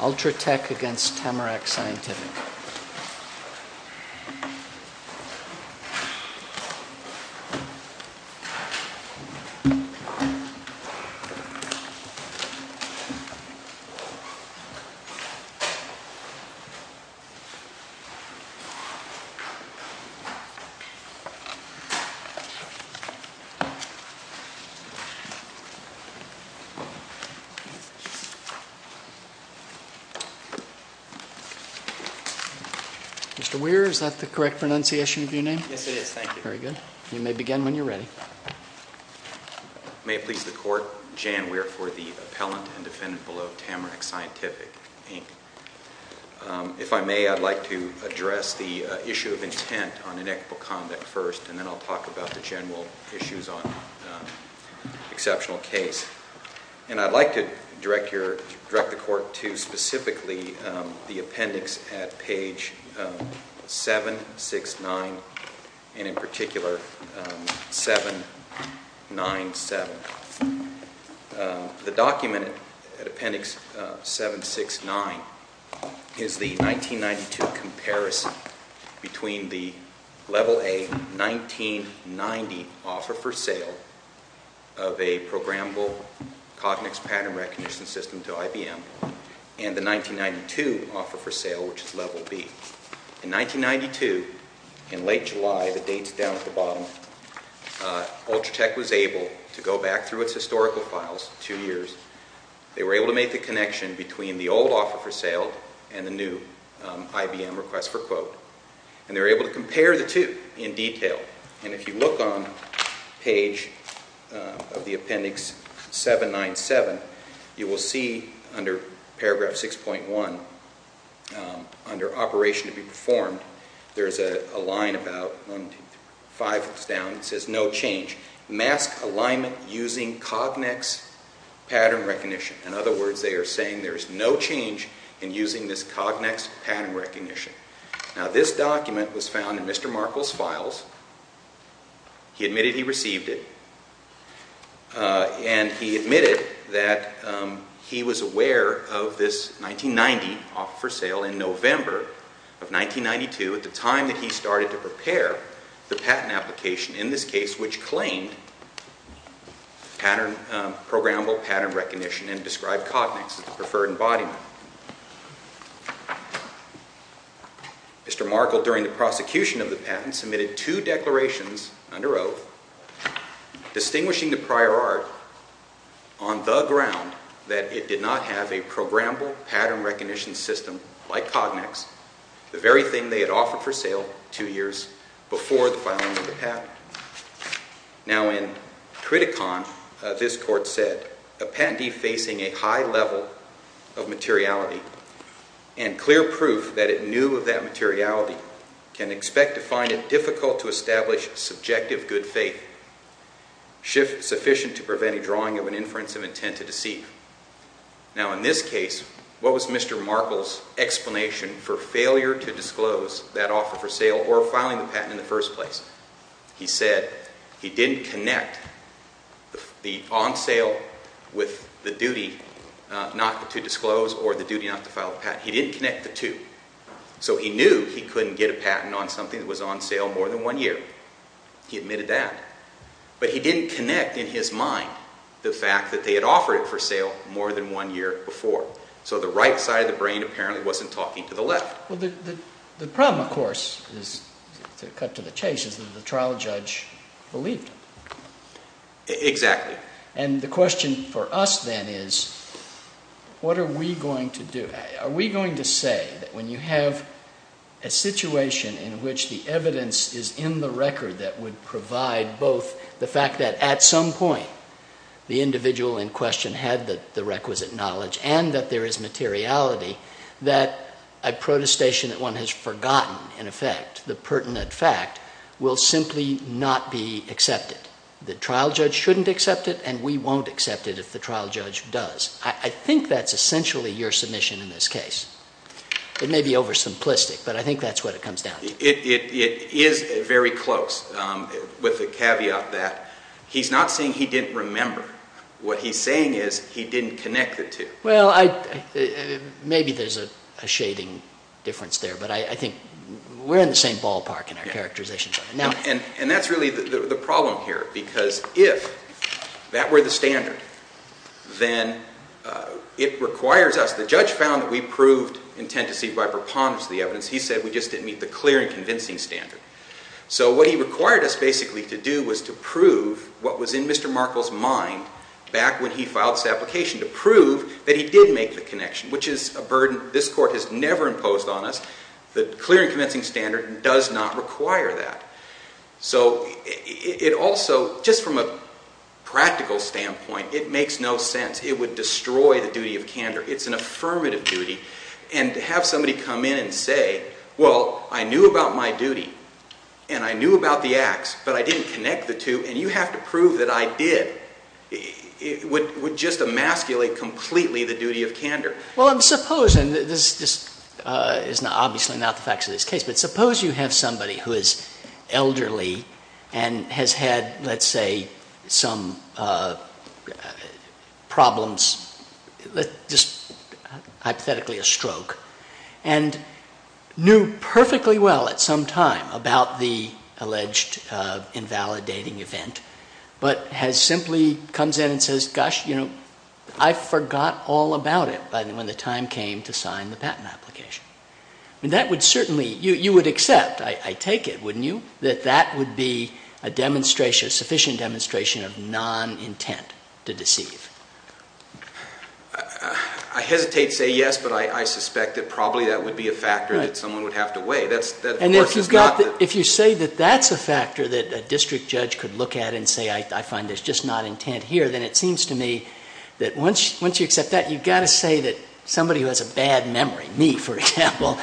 Ultratech v. Tamarack Scientific Mr. Weir, is that the correct pronunciation of your name? Yes, it is. Thank you. Very good. You may begin when you're ready. May it please the Court, Jan Weir for the appellant and defendant below Tamarack Scientific, Inc. If I may, I'd like to address the issue of intent on inequitable conduct first, and then I'll talk about the general issues on exceptional case. And I'd like to direct the Court to specifically the appendix at page 769, and in particular 797. The document at appendix 769 is the 1992 comparison between the Level A 1990 offer for sale of a programmable cognitive pattern recognition system to IBM and the 1992 offer for sale, which is Level B. In 1992, in late July, the date's down at the bottom, Ultratech was able to go back through its historical files, two years. They were able to make the connection between the old offer for sale and the new IBM request for quote. And they were able to compare the two in detail. And if you look on page of the appendix 797, you will see under paragraph 6.1, under operation to be performed, there's a line about five foot down that says no change. Mask alignment using Cognex pattern recognition. In other words, they are saying there's no change in using this Cognex pattern recognition. Now this document was found in Mr. Markle's files. He admitted he received it. And he admitted that he was aware of this 1990 offer for sale in November of 1992, at the time that he started to prepare the patent application in this case, which claimed programmable pattern recognition and described Cognex as the preferred embodiment. Mr. Markle, during the prosecution of the patent, submitted two declarations under oath, distinguishing the prior art on the ground that it did not have a programmable pattern recognition system like Cognex, the very thing they had offered for sale two years before the filing of the patent. Now in Criticon, this court said, a patentee facing a high level of materiality and clear proof that it knew of that materiality can expect to find it difficult to establish subjective good faith, shift sufficient to prevent a drawing of an inference of intent to deceive. Now in this case, what was Mr. Markle's explanation for failure to disclose that offer for sale or filing the patent in the first place? He said he didn't connect the on sale with the duty not to disclose or the duty not to file the patent. He didn't connect the two. So he knew he couldn't get a patent on something that was on sale more than one year. He admitted that. But he didn't connect in his mind the fact that they had offered it for sale more than one year before. So the right side of the brain apparently wasn't talking to the left. The problem, of course, to cut to the chase, is that the trial judge believed him. Exactly. And the question for us then is, what are we going to do? Are we going to say that when you have a situation in which the evidence is in the record that would provide both the fact that at some point the individual in question had the requisite knowledge and that there is materiality, that a protestation that one has forgotten, in effect, the pertinent fact, will simply not be accepted? The trial judge shouldn't accept it, and we won't accept it if the trial judge does. I think that's essentially your submission in this case. It may be oversimplistic, but I think that's what it comes down to. It is very close, with the caveat that he's not saying he didn't remember. What he's saying is he didn't connect the two. Well, maybe there's a shading difference there, but I think we're in the same ballpark in our characterization. And that's really the problem here, because if that were the standard, then it requires us. The judge found that we proved intent to see by preponderance of the evidence. He said we just didn't meet the clear and convincing standard. So what he required us basically to do was to prove what was in Mr. Markle's mind back when he filed this application, to prove that he did make the connection, which is a burden this Court has never imposed on us. The clear and convincing standard does not require that. So it also, just from a practical standpoint, it makes no sense. It would destroy the duty of candor. It's an affirmative duty, and to have somebody come in and say, well, I knew about my duty, and I knew about the acts, but I didn't connect the two, and you have to prove that I did, would just emasculate completely the duty of candor. Well, suppose, and this is obviously not the facts of this case, but suppose you have somebody who is elderly and has had, let's say, some problems, just hypothetically a stroke, and knew perfectly well at some time about the alleged invalidating event, but simply comes in and says, gosh, you know, I forgot all about it when the time came to sign the patent application. That would certainly, you would accept, I take it, wouldn't you, that that would be a sufficient demonstration of non-intent to deceive? I hesitate to say yes, but I suspect that probably that would be a factor that someone would have to weigh. And if you say that that's a factor that a district judge could look at and say, I find there's just not intent here, then it seems to me that once you accept that, you've got to say that somebody who has a bad memory, me, for example,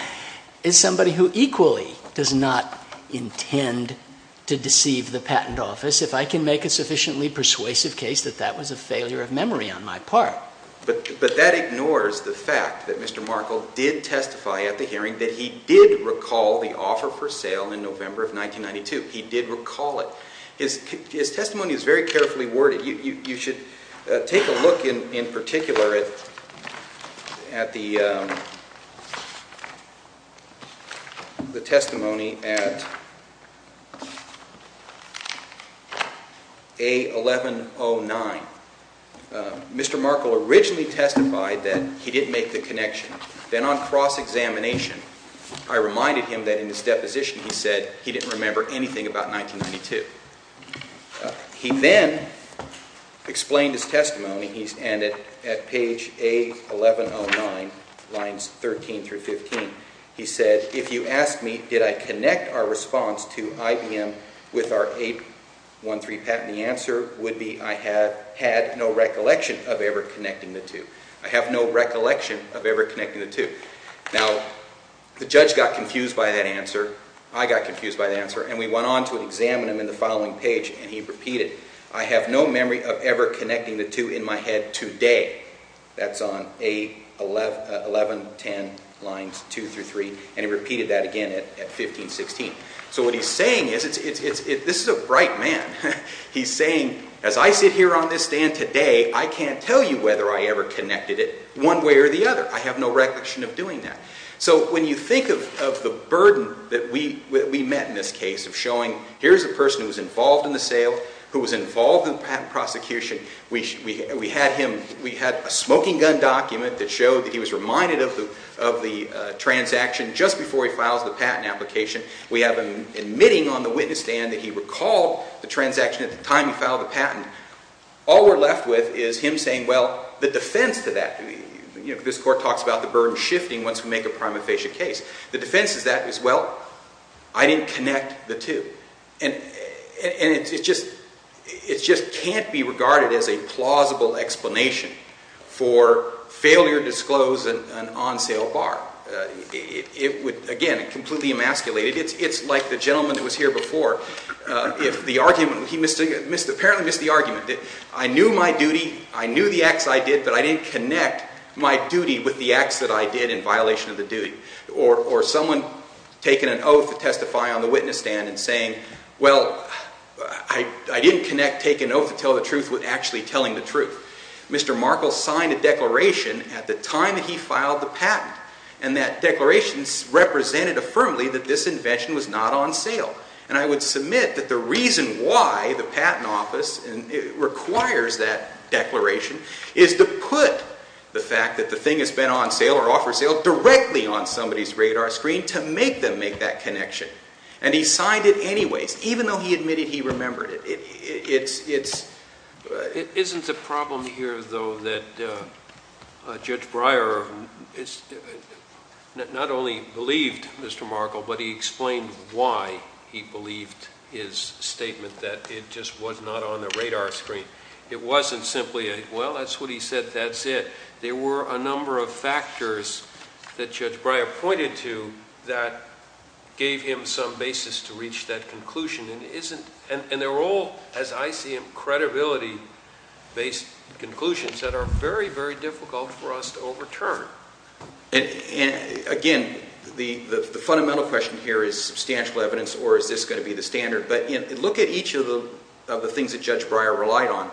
is somebody who equally does not intend to deceive the patent office. If I can make a sufficiently persuasive case that that was a failure of memory on my part. But that ignores the fact that Mr. Markle did testify at the hearing that he did recall the offer for sale in November of 1992. He did recall it. His testimony is very carefully worded. You should take a look in particular at the testimony at A1109. Mr. Markle originally testified that he did make the connection. Then on cross-examination, I reminded him that in his deposition he said he didn't remember anything about 1992. He then explained his testimony, and at page A1109, lines 13 through 15, he said, if you ask me, did I connect our response to IBM with our 813 patent, the answer would be I had no recollection of ever connecting the two. I have no recollection of ever connecting the two. Now, the judge got confused by that answer, I got confused by that answer, and we went on to examine him in the following page, and he repeated, I have no memory of ever connecting the two in my head today. That's on A1110, lines 2 through 3, and he repeated that again at 1516. So what he's saying is, this is a bright man. He's saying, as I sit here on this stand today, I can't tell you whether I ever connected it one way or the other. I have no recollection of doing that. So when you think of the burden that we met in this case of showing, here's a person who was involved in the sale, who was involved in the patent prosecution. We had him, we had a smoking gun document that showed that he was reminded of the transaction just before he files the patent application. We have him admitting on the witness stand that he recalled the transaction at the time he filed the patent. All we're left with is him saying, well, the defense to that, this court talks about the burden shifting once we make a prima facie case. The defense to that is, well, I didn't connect the two. And it just can't be regarded as a plausible explanation for failure to disclose an on-sale bar. Again, it completely emasculated. It's like the gentleman that was here before. He apparently missed the argument. I knew my duty. I knew the acts I did, but I didn't connect my duty with the acts that I did in violation of the duty. Or someone taking an oath to testify on the witness stand and saying, well, I didn't connect taking an oath to tell the truth with actually telling the truth. Mr. Markle signed a declaration at the time that he filed the patent. And that declaration represented affirmatively that this invention was not on sale. And I would submit that the reason why the Patent Office requires that declaration is to put the fact that the thing has been on sale or offer sale directly on somebody's radar screen to make them make that connection. And he signed it anyways, even though he admitted he remembered it. It isn't a problem here, though, that Judge Breyer not only believed Mr. Markle, but he explained why he believed his statement that it just was not on the radar screen. It wasn't simply a, well, that's what he said, that's it. There were a number of factors that Judge Breyer pointed to that gave him some basis to reach that conclusion. And they're all, as I see them, credibility-based conclusions that are very, very difficult for us to overturn. Again, the fundamental question here is substantial evidence or is this going to be the standard? But look at each of the things that Judge Breyer relied on.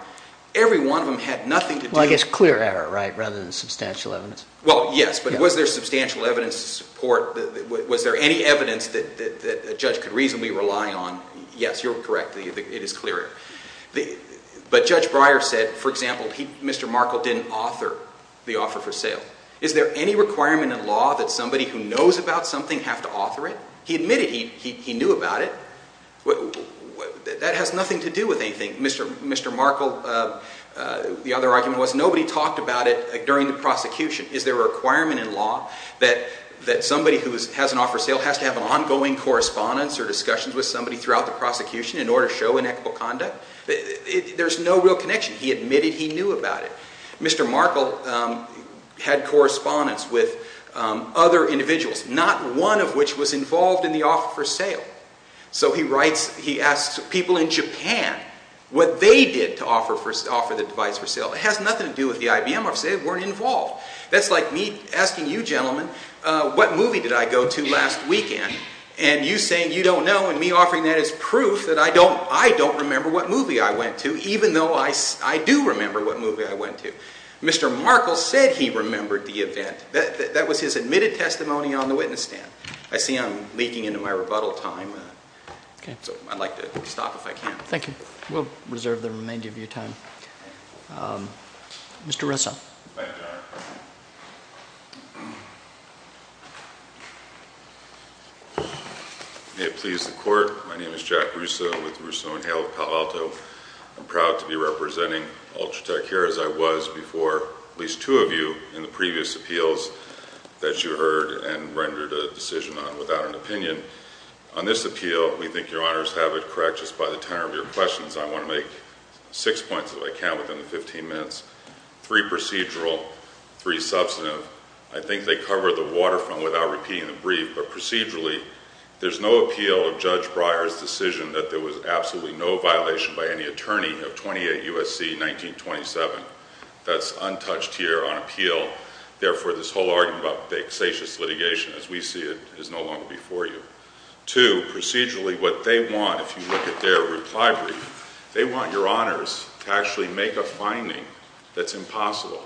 Every one of them had nothing to do with it. Well, I guess clear error rather than substantial evidence. Well, yes, but was there substantial evidence to support? Yes, you're correct. It is clear error. But Judge Breyer said, for example, Mr. Markle didn't author the offer for sale. Is there any requirement in law that somebody who knows about something have to author it? He admitted he knew about it. That has nothing to do with anything. Mr. Markle, the other argument was nobody talked about it during the prosecution. Is there a requirement in law that somebody who has an offer for sale has to have an ongoing correspondence or discussions with somebody throughout the prosecution in order to show inequitable conduct? There's no real connection. He admitted he knew about it. Mr. Markle had correspondence with other individuals, not one of which was involved in the offer for sale. So he writes, he asks people in Japan what they did to offer the device for sale. It has nothing to do with the IBM office. They weren't involved. That's like me asking you gentlemen, what movie did I go to last weekend? And you saying you don't know, and me offering that as proof that I don't remember what movie I went to, even though I do remember what movie I went to. Mr. Markle said he remembered the event. That was his admitted testimony on the witness stand. I see I'm leaking into my rebuttal time, so I'd like to stop if I can. Thank you. We'll reserve the remainder of your time. Mr. Russo. Thank you, Your Honor. May it please the Court, my name is Jack Russo with Russo & Hale of Palo Alto. I'm proud to be representing Ultratech here as I was before at least two of you in the previous appeals that you heard and rendered a decision on without an opinion. On this appeal, we think Your Honor's have it correct just by the tenor of your questions. I want to make six points if I can within the 15 minutes. Three procedural, three substantive. I think they cover the waterfront without repeating the brief, but procedurally, there's no appeal of Judge Breyer's decision that there was absolutely no violation by any attorney of 28 U.S.C. 1927. That's untouched here on appeal. Therefore, this whole argument about the exacious litigation as we see it is no longer before you. Two, procedurally, what they want, if you look at their reply brief, they want Your Honors to actually make a finding that's impossible,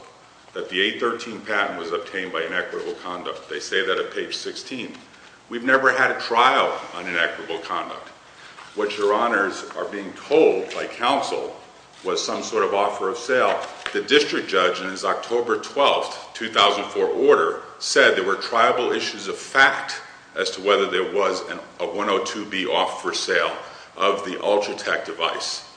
that the 813 patent was obtained by inequitable conduct. They say that at page 16. We've never had a trial on inequitable conduct. What Your Honors are being told by counsel was some sort of offer of sale. Now, the district judge in his October 12th, 2004 order said there were triable issues of fact as to whether there was a 102B off for sale of the Ultratech device.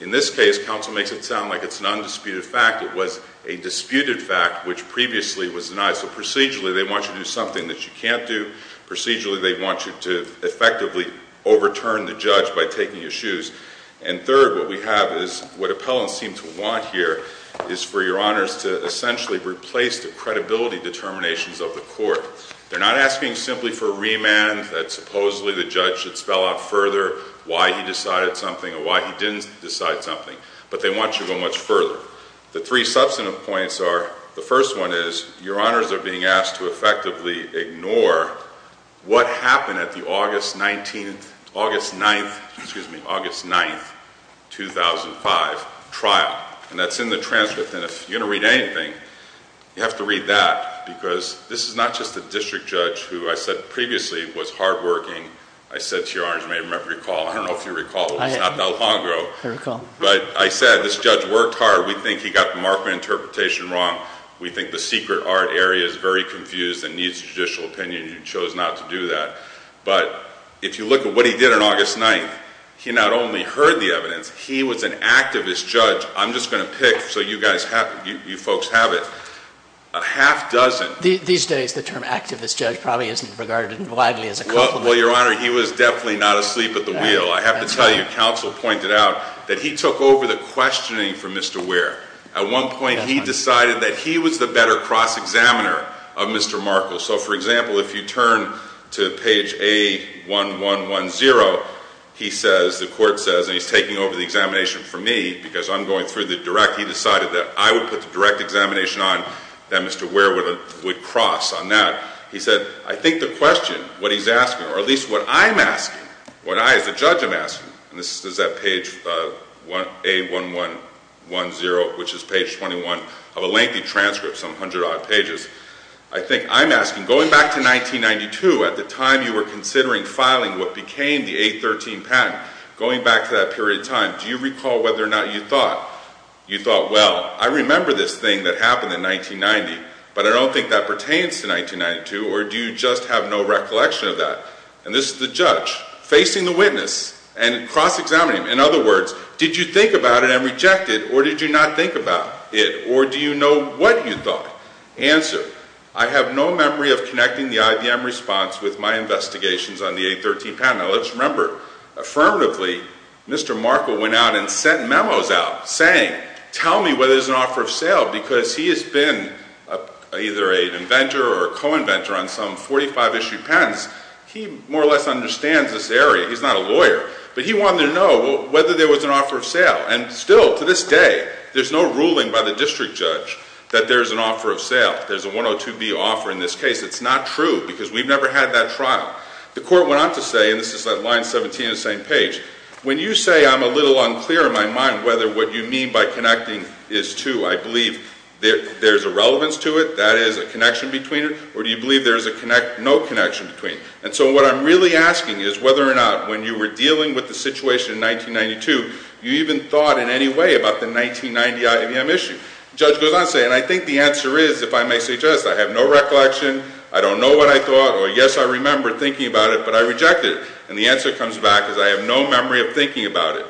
In this case, counsel makes it sound like it's an undisputed fact. It was a disputed fact, which previously was denied. So procedurally, they want you to do something that you can't do. Procedurally, they want you to effectively overturn the judge by taking your shoes. And third, what we have is what appellants seem to want here is for Your Honors to essentially replace the credibility determinations of the court. They're not asking simply for remand that supposedly the judge should spell out further why he decided something or why he didn't decide something. But they want you to go much further. The three substantive points are, the first one is, Your Honors are being asked to effectively ignore what happened at the August 9th, 2005 trial. And that's in the transcript. And if you're going to read anything, you have to read that. Because this is not just a district judge who I said previously was hardworking. I said to Your Honors, you may remember, recall. I don't know if you recall. It was not that long ago. I recall. But I said, this judge worked hard. We think he got the marker interpretation wrong. We think the secret art area is very confused and needs a judicial opinion. You chose not to do that. But if you look at what he did on August 9th, he not only heard the evidence, he was an activist judge. I'm just going to pick so you folks have it. A half dozen. These days, the term activist judge probably isn't regarded as widely as a compliment. Well, Your Honor, he was definitely not asleep at the wheel. I have to tell you, counsel pointed out that he took over the questioning for Mr. Ware. At one point, he decided that he was the better cross-examiner of Mr. Markle. So, for example, if you turn to page A1110, he says, the court says, and he's taking over the examination for me because I'm going through the direct. He decided that I would put the direct examination on, that Mr. Ware would cross on that. Now, he said, I think the question, what he's asking, or at least what I'm asking, what I as a judge am asking, and this is at page A1110, which is page 21 of a lengthy transcript, some hundred odd pages. I think I'm asking, going back to 1992, at the time you were considering filing what became the 813 patent, going back to that period of time, do you recall whether or not you thought, you thought, well, I remember this thing that happened in 1990, but I don't think that pertains to 1992, or do you just have no recollection of that? And this is the judge facing the witness and cross-examining him. In other words, did you think about it and reject it, or did you not think about it, or do you know what you thought? Answer, I have no memory of connecting the IBM response with my investigations on the 813 patent. Now, let's remember, affirmatively, Mr. Markle went out and sent memos out saying, tell me whether there's an offer of sale, because he has been either an inventor or a co-inventor on some 45-issue patents. He more or less understands this area. He's not a lawyer, but he wanted to know whether there was an offer of sale. And still, to this day, there's no ruling by the district judge that there's an offer of sale. There's a 102B offer in this case. It's not true, because we've never had that trial. The court went on to say, and this is at line 17 on the same page, when you say I'm a little unclear in my mind whether what you mean by connecting is two, I believe there's a relevance to it, that is a connection between it, or do you believe there is no connection between? And so what I'm really asking is whether or not when you were dealing with the situation in 1992, you even thought in any way about the 1990 IBM issue. The judge goes on to say, and I think the answer is, if I may suggest, I have no recollection, I don't know what I thought, or yes, I remember thinking about it, but I rejected it. And the answer comes back as I have no memory of thinking about it.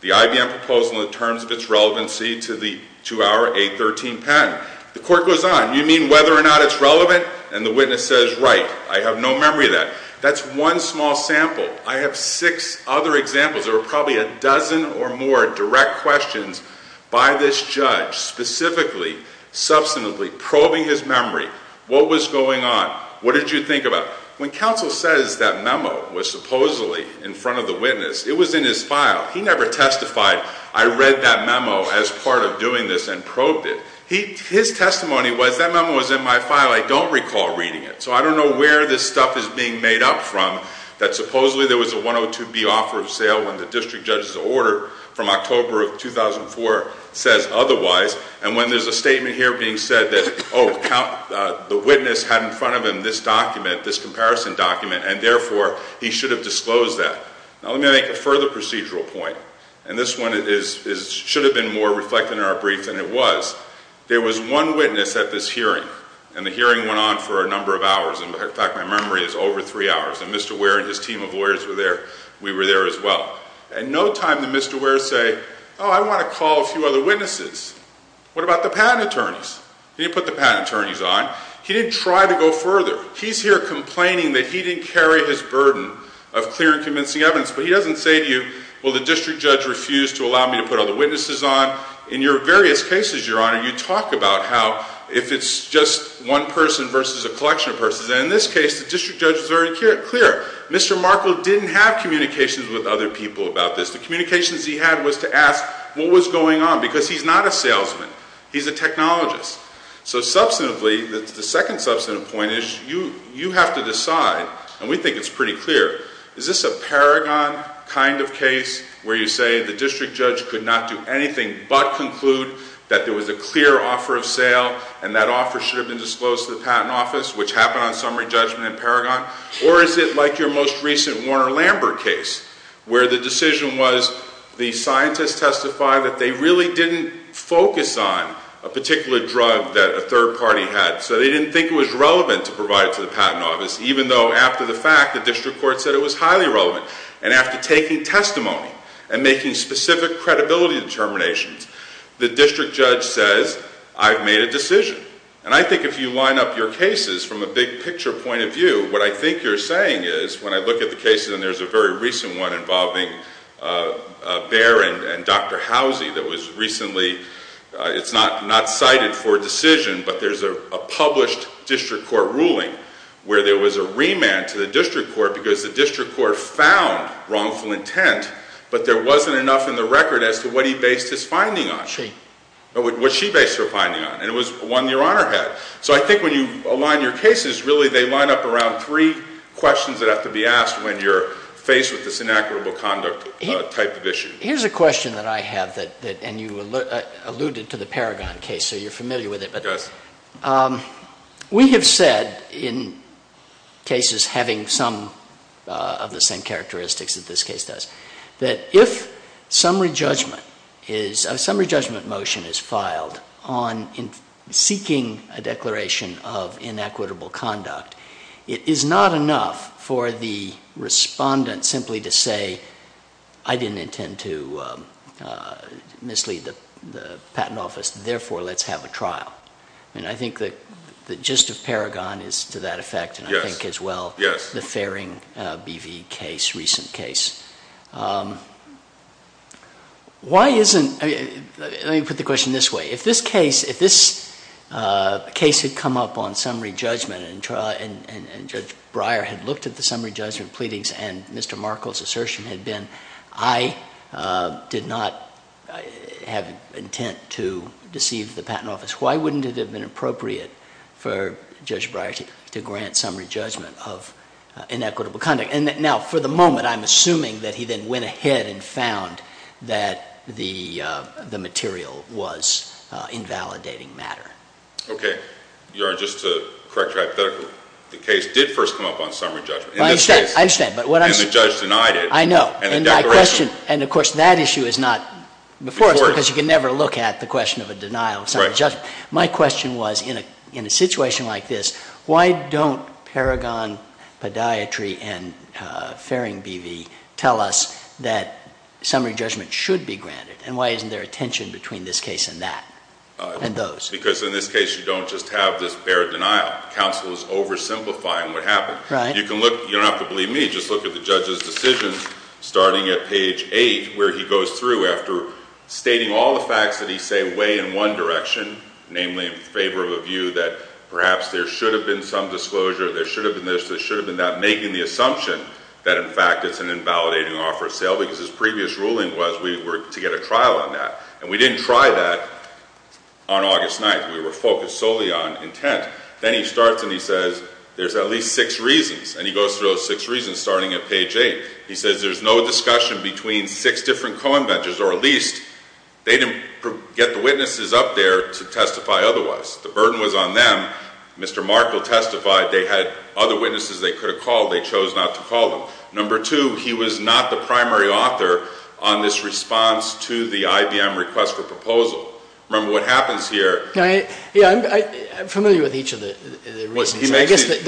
The IBM proposal in terms of its relevancy to our 813 patent. The court goes on. You mean whether or not it's relevant? And the witness says, right, I have no memory of that. That's one small sample. I have six other examples. There were probably a dozen or more direct questions by this judge, specifically, substantively probing his memory. What was going on? What did you think about? When counsel says that memo was supposedly in front of the witness, it was in his file. He never testified, I read that memo as part of doing this and probed it. His testimony was, that memo was in my file. I don't recall reading it. So I don't know where this stuff is being made up from, that supposedly there was a 102B offer of sale when the district judge's order from October of 2004 says otherwise. And when there's a statement here being said that, oh, the witness had in front of him this document, this comparison document, and therefore he should have disclosed that. Now, let me make a further procedural point. And this one should have been more reflected in our brief than it was. There was one witness at this hearing, and the hearing went on for a number of hours. In fact, my memory is over three hours. And Mr. Ware and his team of lawyers were there. We were there as well. And no time did Mr. Ware say, oh, I want to call a few other witnesses. What about the patent attorneys? He didn't put the patent attorneys on. He didn't try to go further. He's here complaining that he didn't carry his burden of clear and convincing evidence. But he doesn't say to you, well, the district judge refused to allow me to put other witnesses on. In your various cases, Your Honor, you talk about how if it's just one person versus a collection of persons. In this case, the district judge was very clear. Mr. Markle didn't have communications with other people about this. The communications he had was to ask what was going on, because he's not a salesman. He's a technologist. So substantively, the second substantive point is you have to decide, and we think it's pretty clear, is this a paragon kind of case where you say the district judge could not do anything but conclude that there was a clear offer of sale and that offer should have been disclosed to the patent office, which happened on summary judgment and paragon? Or is it like your most recent Warner-Lambert case, where the decision was the scientists testified that they really didn't focus on a particular drug that a third party had, so they didn't think it was relevant to provide it to the patent office, even though after the fact, the district court said it was highly relevant. And after taking testimony and making specific credibility determinations, the district judge says, I've made a decision. And I think if you line up your cases from a big-picture point of view, what I think you're saying is when I look at the cases, and there's a very recent one involving Baer and Dr. Housey that was recently, it's not cited for a decision, but there's a published district court ruling where there was a remand to the district court because the district court found wrongful intent, but there wasn't enough in the record as to what he based his finding on. What she based her finding on, and it was one your Honor had. So I think when you align your cases, really they line up around three questions that have to be asked when you're faced with this inequitable conduct type of issue. Here's a question that I have, and you alluded to the Paragon case, so you're familiar with it. Yes. We have said in cases having some of the same characteristics that this case does, that if a summary judgment motion is filed on seeking a declaration of inequitable conduct, it is not enough for the respondent simply to say, I didn't intend to mislead the patent office, therefore let's have a trial. I think the gist of Paragon is to that effect. Yes. Why isn't, let me put the question this way. If this case had come up on summary judgment and Judge Breyer had looked at the summary judgment pleadings and Mr. Markle's assertion had been, I did not have intent to deceive the patent office, why wouldn't it have been appropriate for Judge Breyer to grant summary judgment of inequitable conduct? Now, for the moment, I'm assuming that he then went ahead and found that the material was invalidating matter. Okay. Your Honor, just to correct you hypothetically, the case did first come up on summary judgment. I understand. And the judge denied it. I know. And of course, that issue is not before us because you can never look at the question of a denial of summary judgment. But my question was, in a situation like this, why don't Paragon Podiatry and Farring Bevey tell us that summary judgment should be granted? And why isn't there a tension between this case and that, and those? Because in this case, you don't just have this bare denial. Counsel is oversimplifying what happened. Right. You don't have to believe me. Just look at the judge's decision starting at page 8 where he goes through after stating all the facts that he's saying weigh in one direction, namely in favor of a view that perhaps there should have been some disclosure, there should have been this, there should have been that, making the assumption that, in fact, it's an invalidating offer of sale because his previous ruling was we were to get a trial on that. And we didn't try that on August 9th. We were focused solely on intent. Then he starts and he says there's at least six reasons. And he goes through those six reasons starting at page 8. He says there's no discussion between six different co-inventors or at least they didn't get the witnesses up there to testify otherwise. The burden was on them. Mr. Markle testified they had other witnesses they could have called. They chose not to call them. Number two, he was not the primary author on this response to the IBM request for proposal. Remember what happens here. Yeah, I'm familiar with each of the reasons. I guess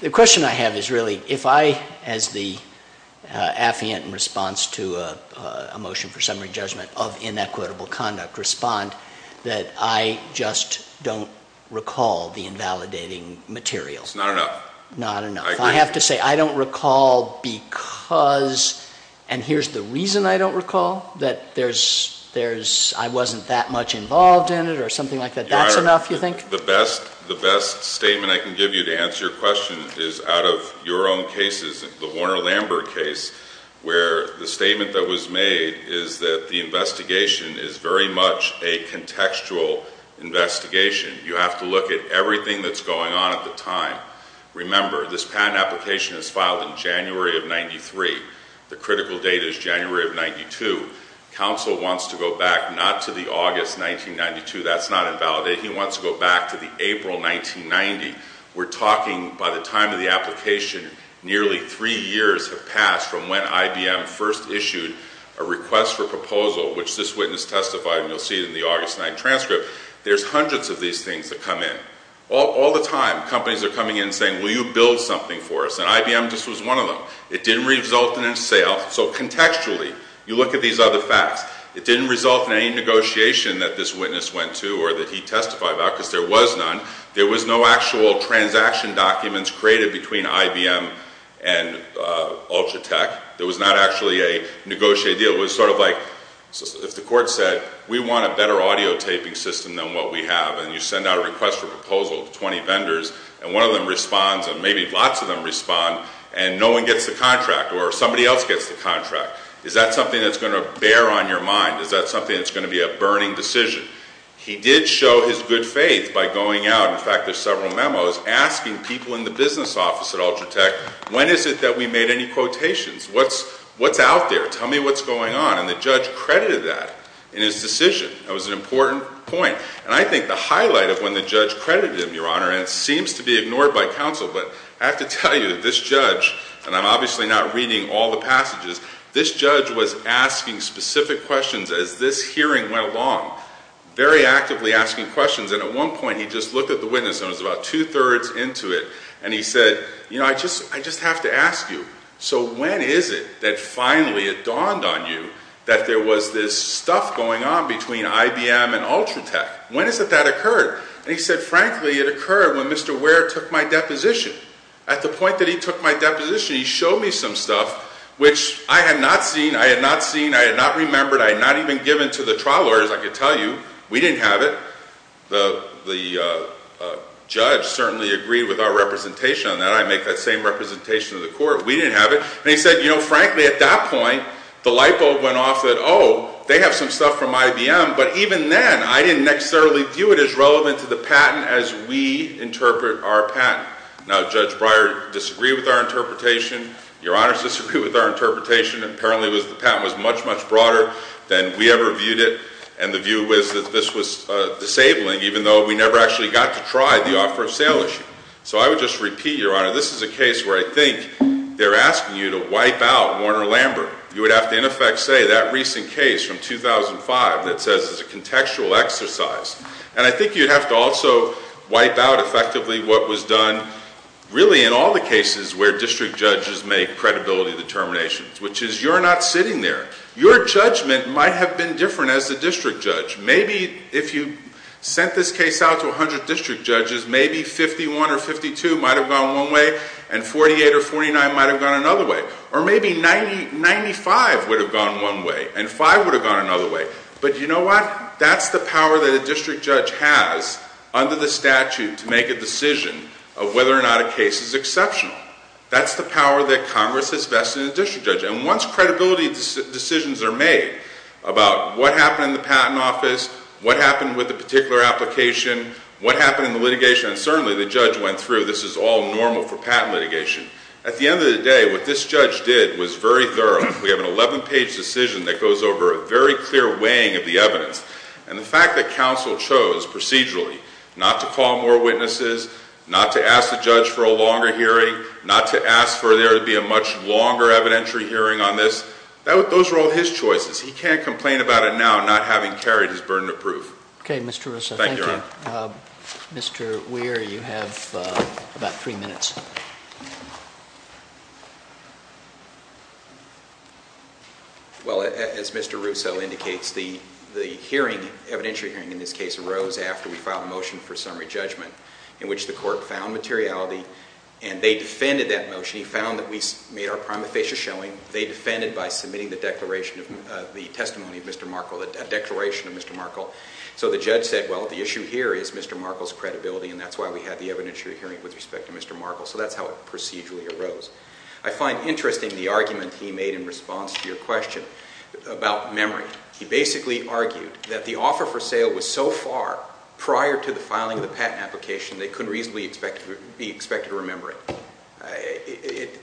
the question I have is really if I, as the affiant in response to a motion for summary judgment of inequitable conduct, respond that I just don't recall the invalidating material. It's not enough. Not enough. I have to say I don't recall because, and here's the reason I don't recall, that I wasn't that much involved in it or something like that. That's enough, you think? The best statement I can give you to answer your question is out of your own cases, the Warner-Lambert case, where the statement that was made is that the investigation is very much a contextual investigation. You have to look at everything that's going on at the time. Remember, this patent application is filed in January of 1993. The critical date is January of 1992. Counsel wants to go back not to the August 1992. That's not invalidating. He wants to go back to the April 1990. We're talking, by the time of the application, nearly three years have passed from when IBM first issued a request for proposal, which this witness testified, and you'll see it in the August 9 transcript. There's hundreds of these things that come in. All the time, companies are coming in saying, will you build something for us? And IBM just was one of them. It didn't result in a sale. So contextually, you look at these other facts. It didn't result in any negotiation that this witness went to or that he testified about, because there was none. There was no actual transaction documents created between IBM and Ultratech. There was not actually a negotiated deal. It was sort of like if the court said, we want a better audio taping system than what we have, and you send out a request for proposal to 20 vendors, and one of them responds, and maybe lots of them respond, and no one gets the contract, or somebody else gets the contract. Is that something that's going to bear on your mind? Is that something that's going to be a burning decision? He did show his good faith by going out. In fact, there's several memos asking people in the business office at Ultratech, when is it that we made any quotations? What's out there? Tell me what's going on. And the judge credited that in his decision. That was an important point. And I think the highlight of when the judge credited him, Your Honor, and it seems to be ignored by counsel, but I have to tell you, this judge, and I'm obviously not reading all the passages, this judge was asking specific questions as this hearing went along. Very actively asking questions, and at one point he just looked at the witness, and it was about two-thirds into it, and he said, you know, I just have to ask you, so when is it that finally it dawned on you that there was this stuff going on between IBM and Ultratech? When is it that occurred? And he said, frankly, it occurred when Mr. Ware took my deposition. At the point that he took my deposition, he showed me some stuff, which I had not seen, I had not seen, I had not remembered, I had not even given to the trial lawyers, I could tell you. We didn't have it. The judge certainly agreed with our representation on that. I make that same representation to the court. We didn't have it. And he said, you know, frankly, at that point, the light bulb went off that, oh, they have some stuff from IBM, but even then, I didn't necessarily view it as relevant to the patent as we interpret our patent. Now, Judge Breyer disagreed with our interpretation. Your Honor disagreed with our interpretation. Apparently, the patent was much, much broader than we ever viewed it, and the view was that this was disabling, even though we never actually got to try the offer of sale issue. So I would just repeat, Your Honor, this is a case where I think they're asking you to wipe out Warner-Lambert. You would have to, in effect, say that recent case from 2005 that says it's a contextual exercise. And I think you'd have to also wipe out effectively what was done, really in all the cases where district judges make credibility determinations, which is you're not sitting there. Your judgment might have been different as a district judge. Maybe if you sent this case out to 100 district judges, maybe 51 or 52 might have gone one way, and 48 or 49 might have gone another way. Or maybe 95 would have gone one way, and 5 would have gone another way. But you know what? That's the power that a district judge has under the statute to make a decision of whether or not a case is exceptional. That's the power that Congress has vested in a district judge. And once credibility decisions are made about what happened in the patent office, what happened with a particular application, what happened in the litigation, and certainly the judge went through this is all normal for patent litigation. At the end of the day, what this judge did was very thorough. We have an 11-page decision that goes over a very clear weighing of the evidence. And the fact that counsel chose procedurally not to call more witnesses, not to ask the judge for a longer hearing, not to ask for there to be a much longer evidentiary hearing on this, those are all his choices. He can't complain about it now, not having carried his burden of proof. Okay, Mr. Russo. Thank you. Mr. Weir, you have about three minutes. Well, as Mr. Russo indicates, the hearing, evidentiary hearing in this case, arose after we filed a motion for summary judgment. In which the court found materiality and they defended that motion. He found that we made our prima facie showing. They defended by submitting the testimony of Mr. Markle, a declaration of Mr. Markle. So the judge said, well, the issue here is Mr. Markle's credibility and that's why we have the evidentiary hearing with respect to Mr. Markle. So that's how it procedurally arose. I find interesting the argument he made in response to your question about memory. He basically argued that the offer for sale was so far prior to the filing of the patent application, they couldn't reasonably be expected to remember it.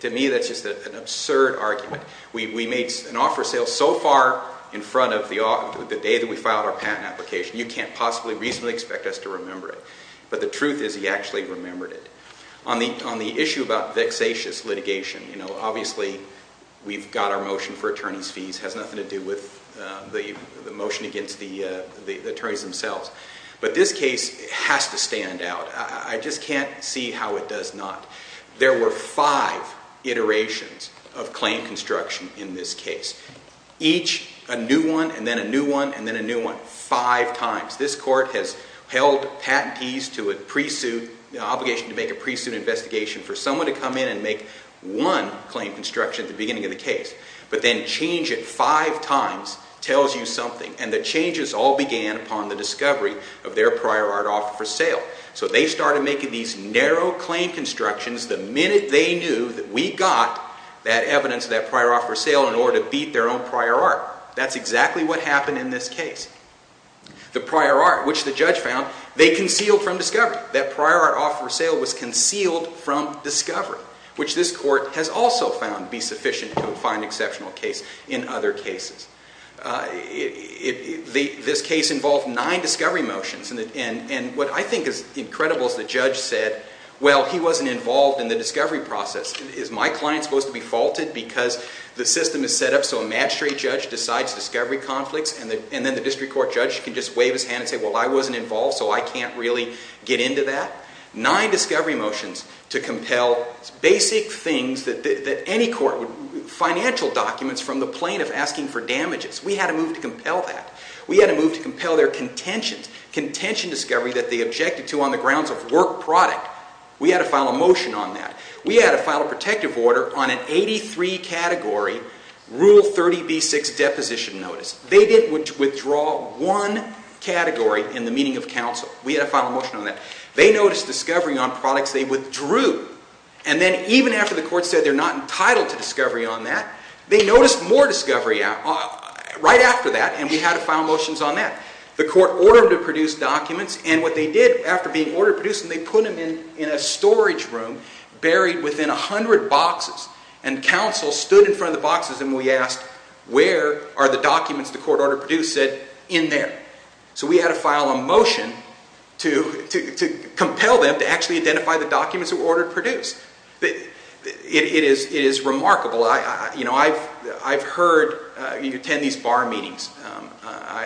To me that's just an absurd argument. We made an offer of sale so far in front of the day that we filed our patent application. You can't possibly reasonably expect us to remember it. But the truth is he actually remembered it. On the issue about vexatious litigation, obviously we've got our motion for attorney's fees. It has nothing to do with the motion against the attorneys themselves. But this case has to stand out. I just can't see how it does not. There were five iterations of claim construction in this case. Each a new one and then a new one and then a new one five times. This court has held patentees to an obligation to make a pre-suit investigation for someone to come in and make one claim construction at the beginning of the case. But then change it five times tells you something. And the changes all began upon the discovery of their prior art offer for sale. So they started making these narrow claim constructions the minute they knew that we got that evidence of that prior offer for sale in order to beat their own prior art. That's exactly what happened in this case. The prior art, which the judge found, they concealed from discovery. That prior art offer for sale was concealed from discovery, which this court has also found to be sufficient to find an exceptional case in other cases. This case involved nine discovery motions. And what I think is incredible is the judge said, well, he wasn't involved in the discovery process. Is my client supposed to be faulted because the system is set up so a magistrate judge decides discovery conflicts and then the district court judge can just wave his hand and say, well, I wasn't involved so I can't really get into that? Nine discovery motions to compel basic things that any court would, financial documents from the plaintiff asking for damages. We had to move to compel that. We had to move to compel their contention discovery that they objected to on the grounds of work product. We had to file a motion on that. We had to file a protective order on an 83-category Rule 30b-6 deposition notice. They didn't withdraw one category in the meeting of counsel. We had to file a motion on that. They noticed discovery on products they withdrew. And then even after the court said they're not entitled to discovery on that, they noticed more discovery right after that, and we had to file motions on that. The court ordered them to produce documents, and what they did after being ordered to produce them, they put them in a storage room buried within 100 boxes, and counsel stood in front of the boxes and we asked, where are the documents the court ordered to produce said in there? So we had to file a motion to compel them to actually identify the documents that were ordered to produce. It is remarkable. You know, I've heard you attend these bar meetings,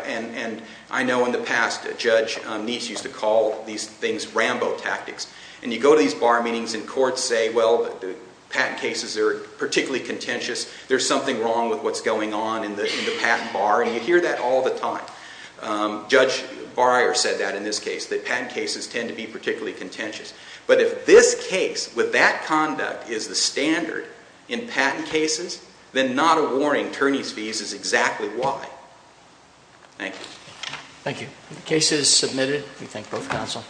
and I know in the past a judge needs to call these things Rambo tactics, and you go to these bar meetings and courts say, well, the patent cases are particularly contentious, there's something wrong with what's going on in the patent bar, and you hear that all the time. Judge Barrier said that in this case, that patent cases tend to be particularly contentious. But if this case with that conduct is the standard in patent cases, then not awarding attorneys' fees is exactly why. Thank you. Thank you. The case is submitted. We thank both counsel.